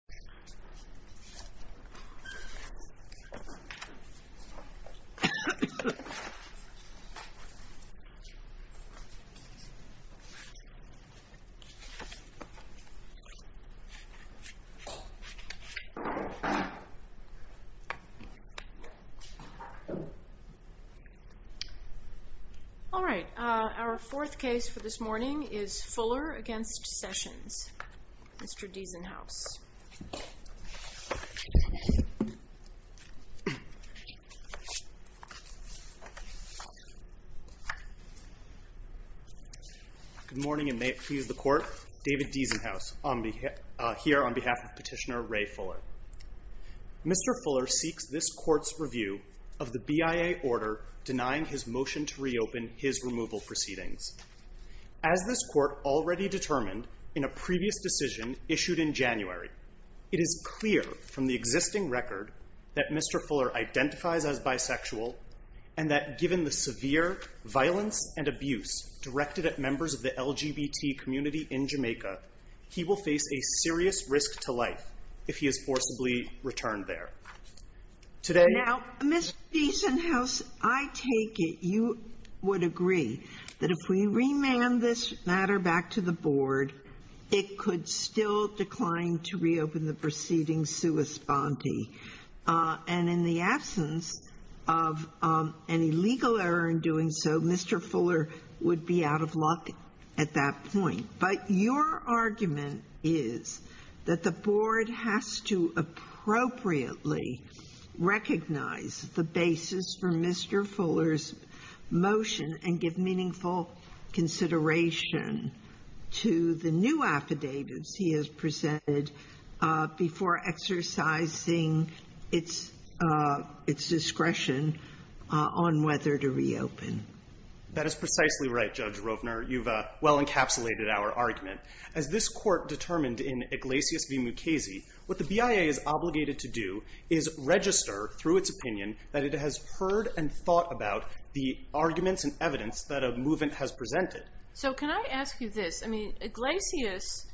Fuller v. Sessions Our fourth case is Fuller v. Sessions Mr. Diesenhaus Good morning and may it please the Court, David Diesenhaus here on behalf of Petitioner Ray Fuller Mr. Fuller seeks this Court's review of the BIA order denying his motion to reopen his removal proceedings As this Court already determined in a previous decision issued in January it is clear from the existing record that Mr. Fuller identifies as bisexual and that given the severe violence and abuse directed at members of the LGBT community in Jamaica he will face a serious risk to life if he is forcibly returned there Now, Mr. Diesenhaus, I take it you would agree that if we remand this matter back to the Board it could still decline to reopen the proceedings sua sponte and in the absence of any legal error in doing so, Mr. Fuller would be out of luck at that point But your argument is that the Board has to appropriately recognize the basis for Mr. Fuller's motion and give meaningful consideration to the new affidavits he has presented before exercising its discretion on whether to reopen That is precisely right, Judge Rovner. You've well encapsulated our argument As this Court determined in Iglesias v. Mukasey what the BIA is obligated to do is register through its opinion that it has heard and thought about the arguments and evidence that a movement has presented So can I ask you this? I mean, Iglesias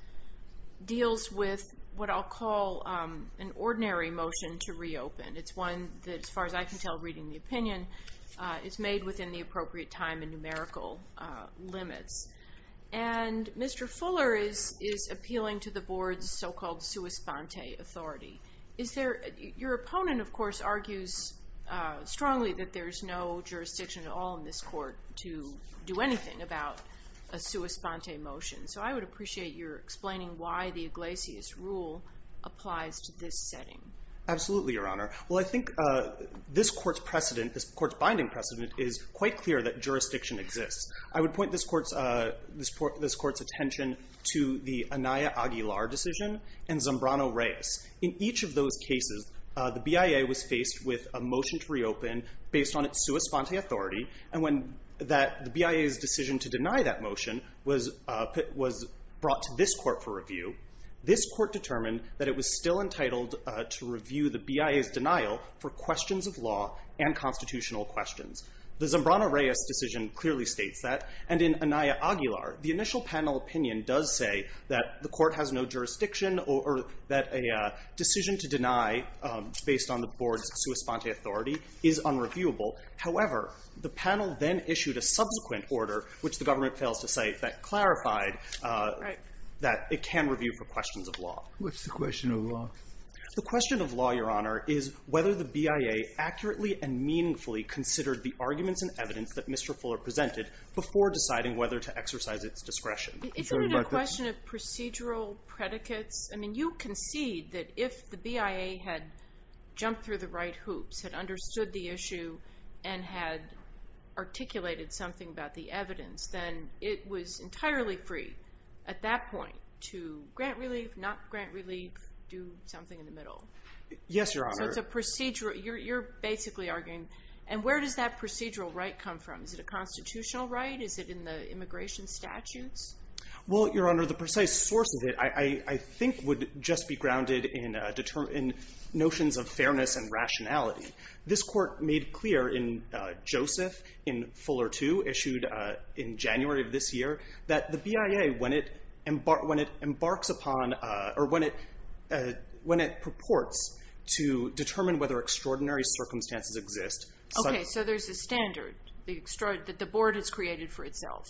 deals with what I'll call an ordinary motion to reopen It's one that, as far as I can tell reading the opinion, is made within the appropriate time and numerical limits And Mr. Fuller is appealing to the Board's so-called sua sponte authority Your opponent, of course, argues strongly that there's no jurisdiction at all in this Court to do anything about a sua sponte motion So I would appreciate your explaining why the Iglesias rule applies to this setting Absolutely, Your Honor Well, I think this Court's binding precedent is quite clear that jurisdiction exists I would point this Court's attention to the Anaya Aguilar decision and Zambrano-Reyes In each of those cases, the BIA was faced with a motion to reopen based on its sua sponte authority And when the BIA's decision to deny that motion was brought to this Court for review This Court determined that it was still entitled to review the BIA's denial for questions of law and constitutional questions The Zambrano-Reyes decision clearly states that And in Anaya Aguilar, the initial panel opinion does say that the Court has no jurisdiction or that a decision to deny based on the Board's sua sponte authority is unreviewable However, the panel then issued a subsequent order, which the government fails to cite, that clarified that it can review for questions of law What's the question of law? The question of law, Your Honor, is whether the BIA accurately and meaningfully considered the arguments and evidence that Mr. Fuller presented before deciding whether to exercise its discretion Isn't it a question of procedural predicates? I mean, you concede that if the BIA had jumped through the right hoops, had understood the issue and had articulated something about the evidence, then it was entirely free at that point to grant relief, not grant relief, do something in the middle Yes, Your Honor So it's a procedural, you're basically arguing, and where does that procedural right come from? Is it a constitutional right? Is it in the immigration statutes? Well, Your Honor, the precise source of it, I think, would just be grounded in notions of fairness and rationality This Court made clear in Joseph, in Fuller II, issued in January of this year that the BIA, when it embarks upon, or when it purports to determine whether extraordinary circumstances exist Okay, so there's a standard that the Board has created for itself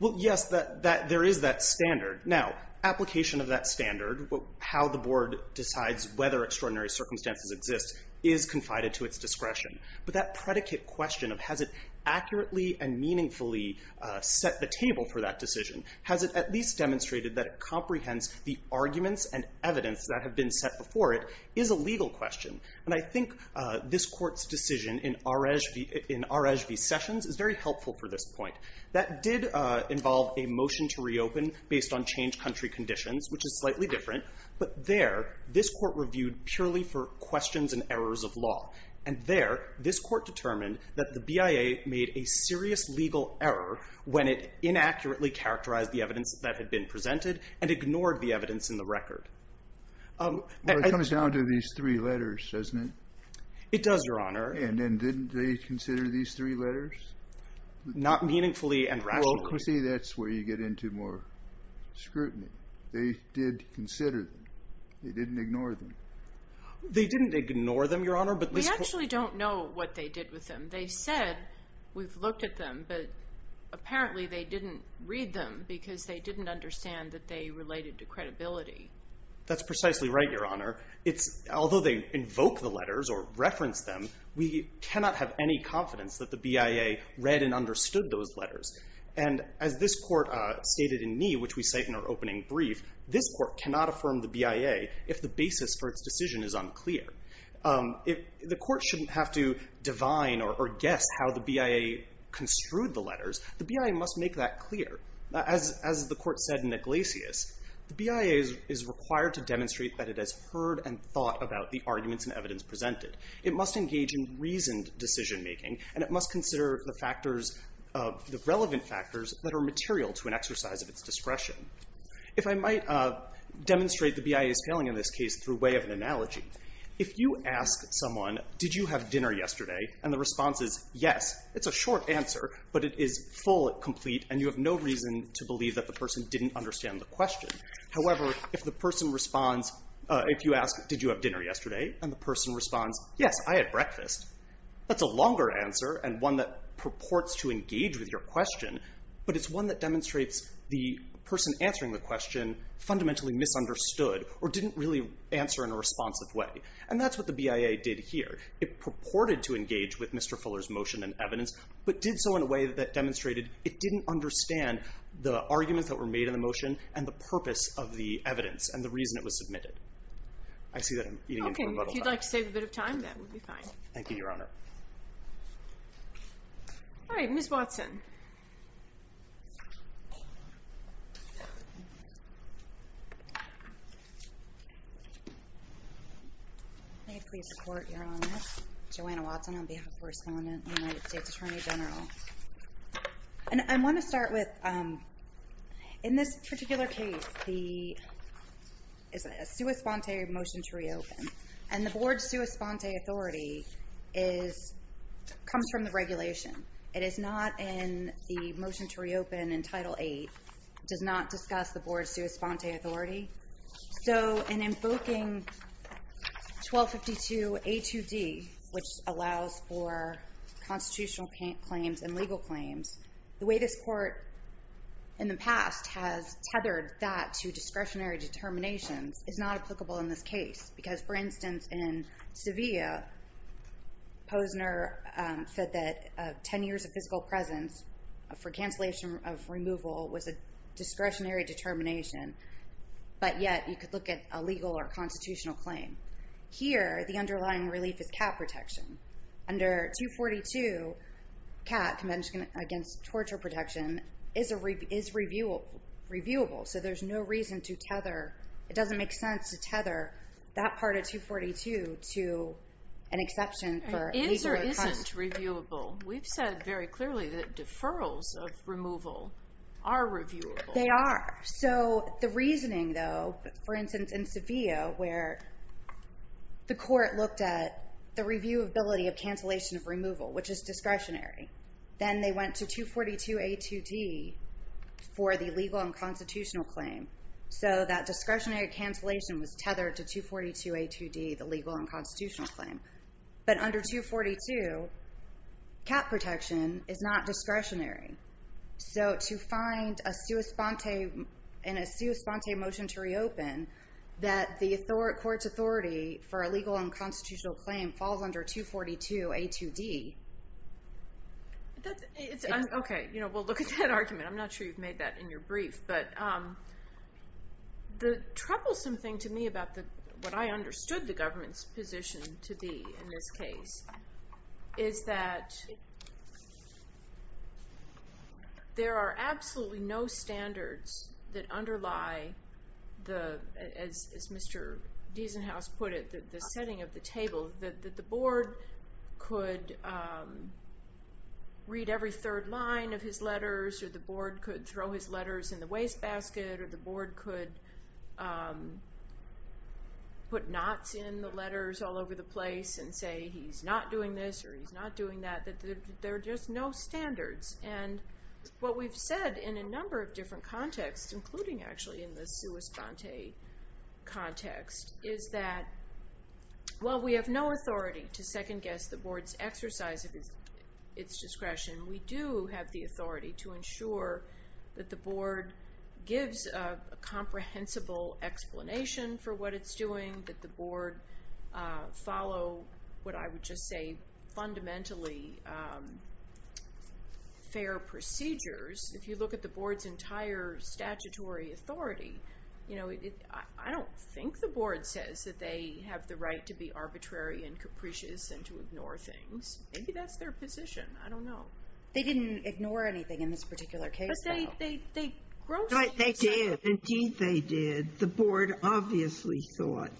Well, yes, there is that standard Now, application of that standard, how the Board decides whether extraordinary circumstances exist is confided to its discretion But that predicate question of, has it accurately and meaningfully set the table for that decision? Has it at least demonstrated that it comprehends the arguments and evidence that have been set before it is a legal question And I think this Court's decision in Arege v. Sessions is very helpful for this point That did involve a motion to reopen based on changed country conditions, which is slightly different But there, this Court reviewed purely for questions and errors of law And there, this Court determined that the BIA made a serious legal error when it inaccurately characterized the evidence that had been presented and ignored the evidence in the record Well, it comes down to these three letters, doesn't it? It does, Your Honor And didn't they consider these three letters? Not meaningfully and rationally Well, see, that's where you get into more scrutiny They did consider them They didn't ignore them They didn't ignore them, Your Honor We actually don't know what they did with them They said, we've looked at them, but apparently they didn't read them because they didn't understand that they related to credibility That's precisely right, Your Honor Although they invoke the letters or reference them we cannot have any confidence that the BIA read and understood those letters And as this Court stated in me, which we cite in our opening brief this Court cannot affirm the BIA if the basis for its decision is unclear The Court shouldn't have to divine or guess how the BIA construed the letters The BIA must make that clear As the Court said in Iglesias the BIA is required to demonstrate that it has heard and thought about the arguments and evidence presented It must engage in reasoned decision-making and it must consider the relevant factors that are material to an exercise of its discretion If I might demonstrate the BIA's failing in this case through way of an analogy If you ask someone, did you have dinner yesterday? and the response is, yes, it's a short answer but it is full and complete and you have no reason to believe that the person didn't understand the question However, if you ask, did you have dinner yesterday? and the person responds, yes, I had breakfast That's a longer answer and one that purports to engage with your question but it's one that demonstrates the person answering the question fundamentally misunderstood or didn't really answer in a responsive way and that's what the BIA did here It purported to engage with Mr. Fuller's motion and evidence but did so in a way that demonstrated it didn't understand the arguments that were made in the motion and the purpose of the evidence and the reason it was submitted If you'd like to save a bit of time, that would be fine Thank you, Your Honor Alright, Ms. Watson May I please report, Your Honor? Joanna Watson on behalf of the First Amendment, United States Attorney General I want to start with, in this particular case a sua sponte motion to reopen and the Board's sua sponte authority comes from the regulation It is not in the motion to reopen in Title 8 It does not discuss the Board's sua sponte authority So, in invoking 1252 A2D which allows for constitutional claims and legal claims the way this Court, in the past, has tethered that to discretionary determinations is not applicable in this case because, for instance, in Sevilla Posner said that 10 years of physical presence for cancellation of removal was a discretionary determination but yet you could look at a legal or constitutional claim Here, the underlying relief is cat protection Under 242, cat, Convention Against Torture Protection is reviewable so there's no reason to tether it doesn't make sense to tether that part of 242 to an exception for legal or constitutional It is or isn't reviewable We've said very clearly that deferrals of removal are reviewable They are So, the reasoning, though for instance, in Sevilla, where the Court looked at the reviewability of cancellation of removal which is discretionary then they went to 242 A2D for the legal and constitutional claim so that discretionary cancellation was tethered to 242 A2D the legal and constitutional claim but under 242 cat protection is not discretionary so to find a sua sponte in a sua sponte motion to reopen that the Court's authority for a legal and constitutional claim falls under 242 A2D OK, we'll look at that argument I'm not sure you've made that in your brief but the troublesome thing to me about what I understood the government's position to be in this case is that there are absolutely no standards that underlie as Mr. Diesenhaus put it the setting of the table that the Board could read every third line of his letters or the Board could throw his letters in the wastebasket or the Board could put knots in the letters all over the place and say he's not doing this or he's not doing that that there are just no standards and what we've said in a number of different contexts including actually in the sua sponte context is that while we have no authority to second guess the Board's exercise of its discretion we do have the authority to ensure that the Board gives a comprehensible explanation for what it's doing that the Board follow what I would just say fundamentally fair procedures if you look at the Board's entire statutory authority you know I don't think the Board says that they have the right to be arbitrary and capricious and to ignore things maybe that's their position I don't know they didn't ignore anything in this particular case but they they grossly they did indeed they did the Board obviously thought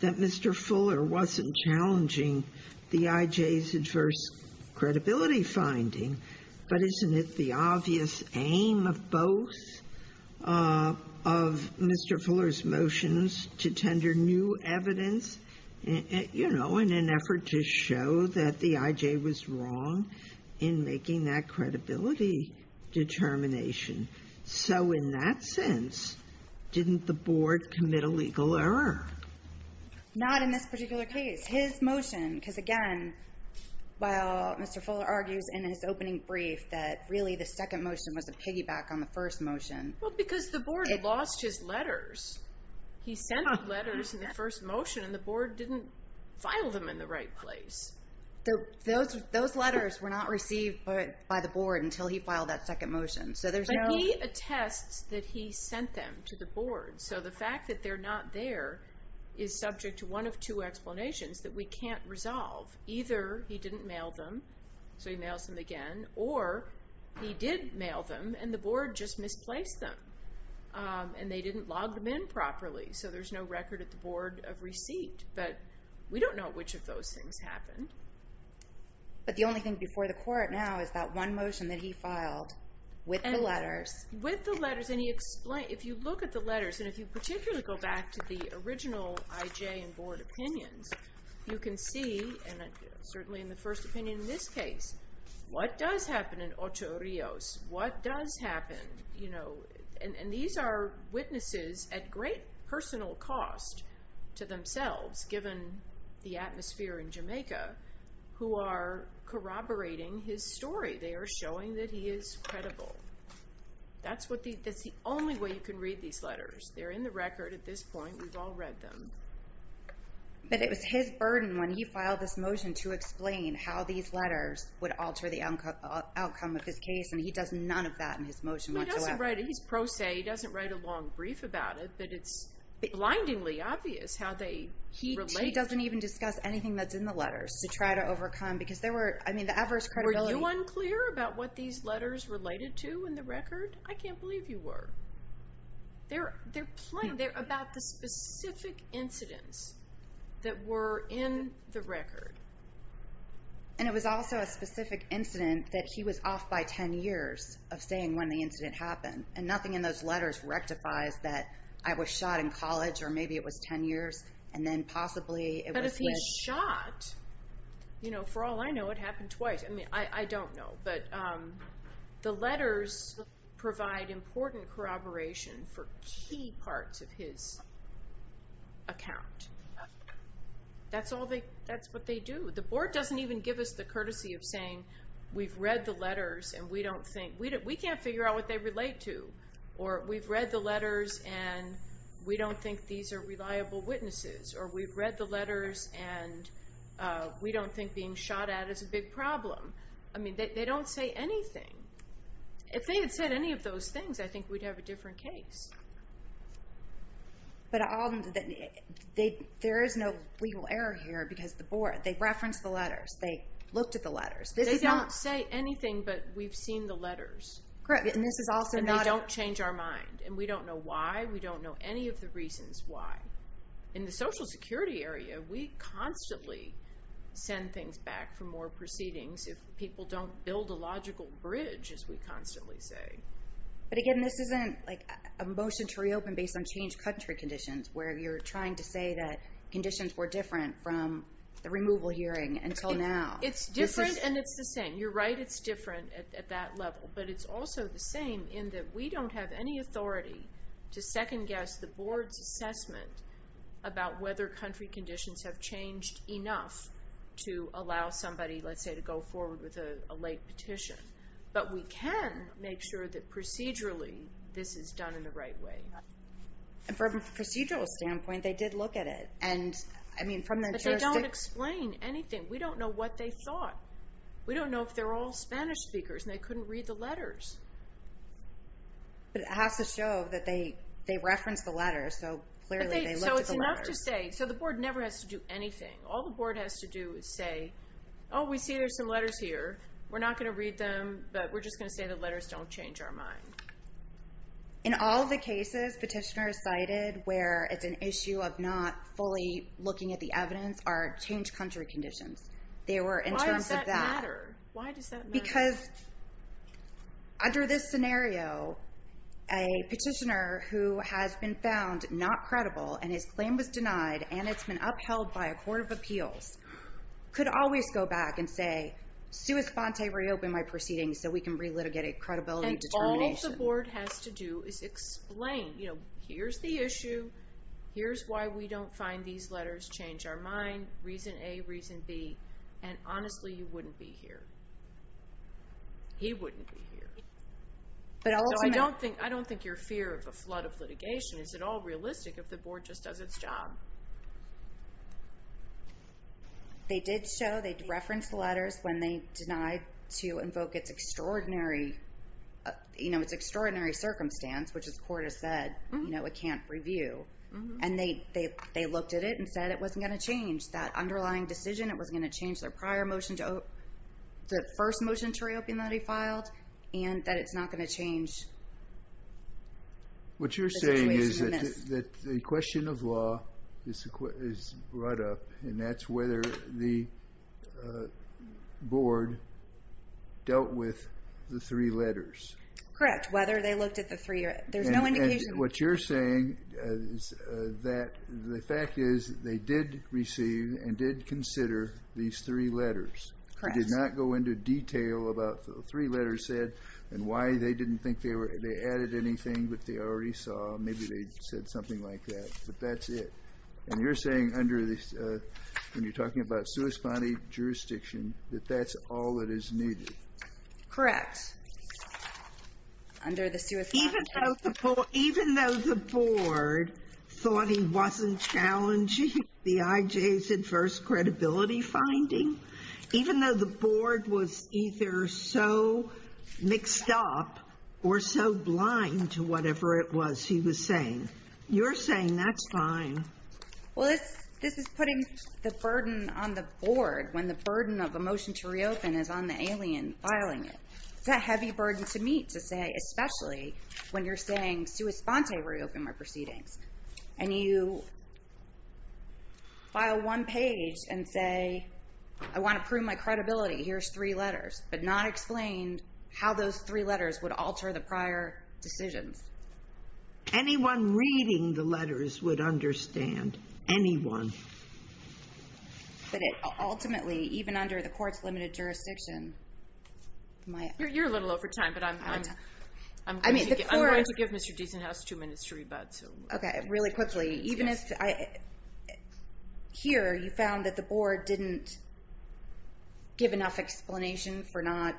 that Mr. Fuller wasn't challenging the IJ's adverse credibility finding but isn't it the obvious aim of both of Mr. Fuller's motions to tender new evidence you know in an effort to show that the IJ was wrong in making that credibility determination so in that sense didn't the Board commit a legal error? Not in this particular case his motion because again while Mr. Fuller argues in his opening brief that really the second motion was a piggyback on the first motion well because the Board lost his letters he sent letters in the first motion and the Board didn't file them in the right place those letters were not received by the Board until he filed that second motion so there's no but he attests that he sent them to the Board so the fact that they're not there is subject to one of two explanations that we can't resolve either he didn't mail them so he mails them again or he did mail them and the Board just misplaced them and they didn't log them in properly so there's no record at the Board of receipt but we don't know which of those things happened but the only thing before the Court now is that one motion that he filed with the letters with the letters and he explained if you look at the letters and if you particularly go back to the original IJ and Board opinions you can see and certainly in the first opinion in this case what does happen in Ocho Rios what does happen you know and these are witnesses at great personal cost to themselves given the atmosphere in Jamaica who are corroborating his story they are showing that he is credible that's what the that's the only way you can read these letters they're in the record at this point we've all read them but it was his burden when he filed this motion to explain how these letters would alter the outcome of his case and he does none of that in his motion whatsoever he doesn't write he's pro se he doesn't write a long brief about it but it's blindingly obvious how they relate he doesn't even discuss anything that's in the letters to try to overcome because there were I mean the adverse credibility were you unclear about what these letters related to in the record I can't believe you were they're plain they're about the specific incidents that were in the record and it was also a specific incident that he was off by 10 years of saying when the incident happened and nothing in those letters rectifies that I was shot in college or maybe it was 10 years and then possibly it was but if he was shot you know for all I know it happened twice I mean I don't know but the letters provide important corroboration for key parts of his account that's all they that's what they do the board doesn't even give us the courtesy of saying we've read the letters and we don't think we can't figure out what they relate to or we've read the letters and we don't think these are reliable witnesses or we've read the letters and we don't think being shot at is a big problem I mean they don't say anything if they had said any of those things I think we'd have a different case but all there is no legal error here because the board they referenced the letters they looked at the letters this is not they don't say anything but we've seen the letters correct and this is also not and they don't change our mind and we don't know why we don't know any of the reasons why in the social security area we constantly send things back for more proceedings if people don't build a logical bridge as we constantly say but again this isn't like a motion to reopen based on changed country conditions where you're trying to say that conditions were different from the removal hearing until now it's different and it's the same you're right it's different at that level but it's also the same in that we don't have any authority to second guess the board's assessment about whether country conditions have changed enough to allow somebody let's say to go forward with a late petition but we can make sure that procedurally this is done in the right way and from a procedural standpoint they did look at it and I mean from their jurisdiction but they don't explain anything we don't know what they thought we don't know if they're all Spanish speakers and they couldn't read the letters but it has to show that they reference the letters so clearly they looked at the letters so it's enough to say so the board never has to do anything all the board has to do is say oh we see there's some letters here we're not going to read them but we're just going to say the letters don't change our mind in all the cases petitioners cited where it's an issue of not fully looking at the evidence are changed country conditions they were in terms of that why does that matter? why does that matter? because under this scenario a petitioner who has been found not credible and his claim was denied and it's been upheld by a court of appeals could always go back and say sui sponte reopen my proceedings so we can re-litigate a credibility determination all the board has to do is explain you know here's the issue here's why we don't find these letters change our mind reason A, reason B and honestly you wouldn't be here he wouldn't be here so I don't think I don't think your fear of a flood of litigation is at all realistic if the board just does it's job they did show they referenced the letters when they denied to invoke it's extraordinary you know it's extraordinary circumstance which the court has said you know it can't review and they looked at it and said it wasn't going to change that underlying decision it wasn't going to change their prior motion the first motion to reopen that he filed and that it's not going to change what you're saying is that the question of law is brought up and that's whether the board dealt with the three letters correct whether they looked at the three there's no indication what you're saying is that the fact is they did receive and did consider these three letters correct they did not go into detail about the three letters said and why they didn't think they added anything that they already saw maybe they said something like that but that's it and you're saying under this when you're talking about sui sponte jurisdiction that that's all that is needed correct under the sui sponte even though the board thought he wasn't challenging the IJ's adverse credibility finding even though the board was either so mixed up or so blind to whatever it was he was saying you're saying that's fine well this is putting the burden on the board when the burden of a motion to reopen is on the alien filing it it's a heavy burden to meet to say especially when you're saying sui sponte reopened my proceedings and you file one page and say I want to prove my credibility here's three letters but not explain how those three letters would alter the prior decisions anyone reading the letters would understand anyone but it ultimately even under the court's limited jurisdiction you're a little over time but I'm I'm going to give Mr. Deason two minutes to rebut really quickly even if here you found that the board didn't give enough explanation for not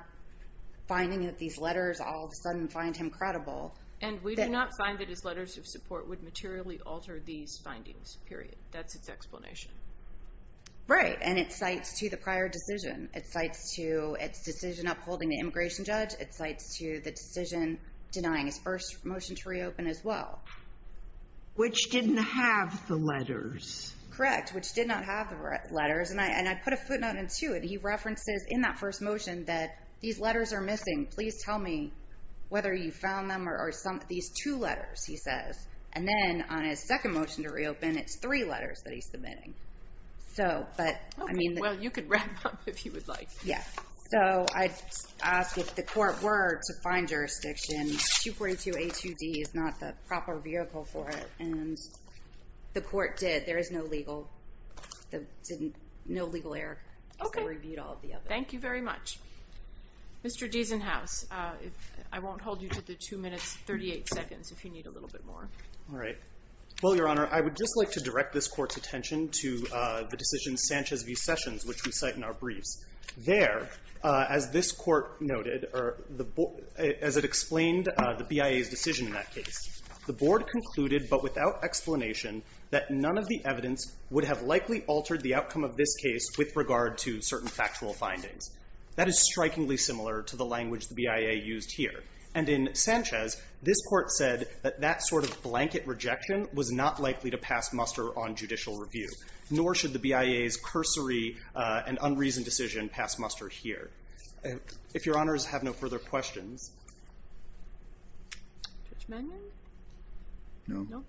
finding that these letters all of a sudden find him credible and we do not find that his letters of support would materially alter these findings period that's its explanation right and it cites to the prior decision it cites to its decision upholding the immigration judge it cites to the decision denying his first motion to reopen as well which didn't have the letters correct which did not have the letters and I put a footnote into it that these letters are missing please tell me whether you found them or some these two letters he says and then on his second motion to reopen and it's three letters that he's submitting so but I mean well you could wrap up if you would like yeah so I asked if the court were to find jurisdiction 242 A2D is not the proper vehicle for it and the court did there is no legal there didn't no legal error because they reviewed all of the other thank you very much Mr. Deason House I won't hold you to the two minutes thirty eight seconds if you need a little bit more alright well your honor I would just like to direct this court's attention to the decision Sanchez v. Sessions which we cite in our briefs there as this court noted or the as it explained the BIA's decision in that case the board concluded but without explanation that none of the evidence would have likely altered the outcome of this case with regard to certain factual findings that is strikingly similar to the language the BIA used here and in Sanchez this court said that that sort of correction was not likely to pass muster on judicial review nor should the BIA's cursory and unreasoned decision pass muster here if your honors have no further questions Judge Mannion no no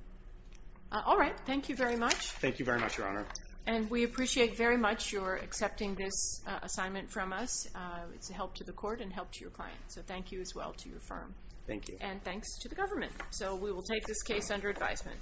alright thank you very much thank you very much your honor and we appreciate very much your accepting this assignment from us it's a help to the court and help to your client so thank you as well to your firm thank you and thanks to the government so we will take this case under advisement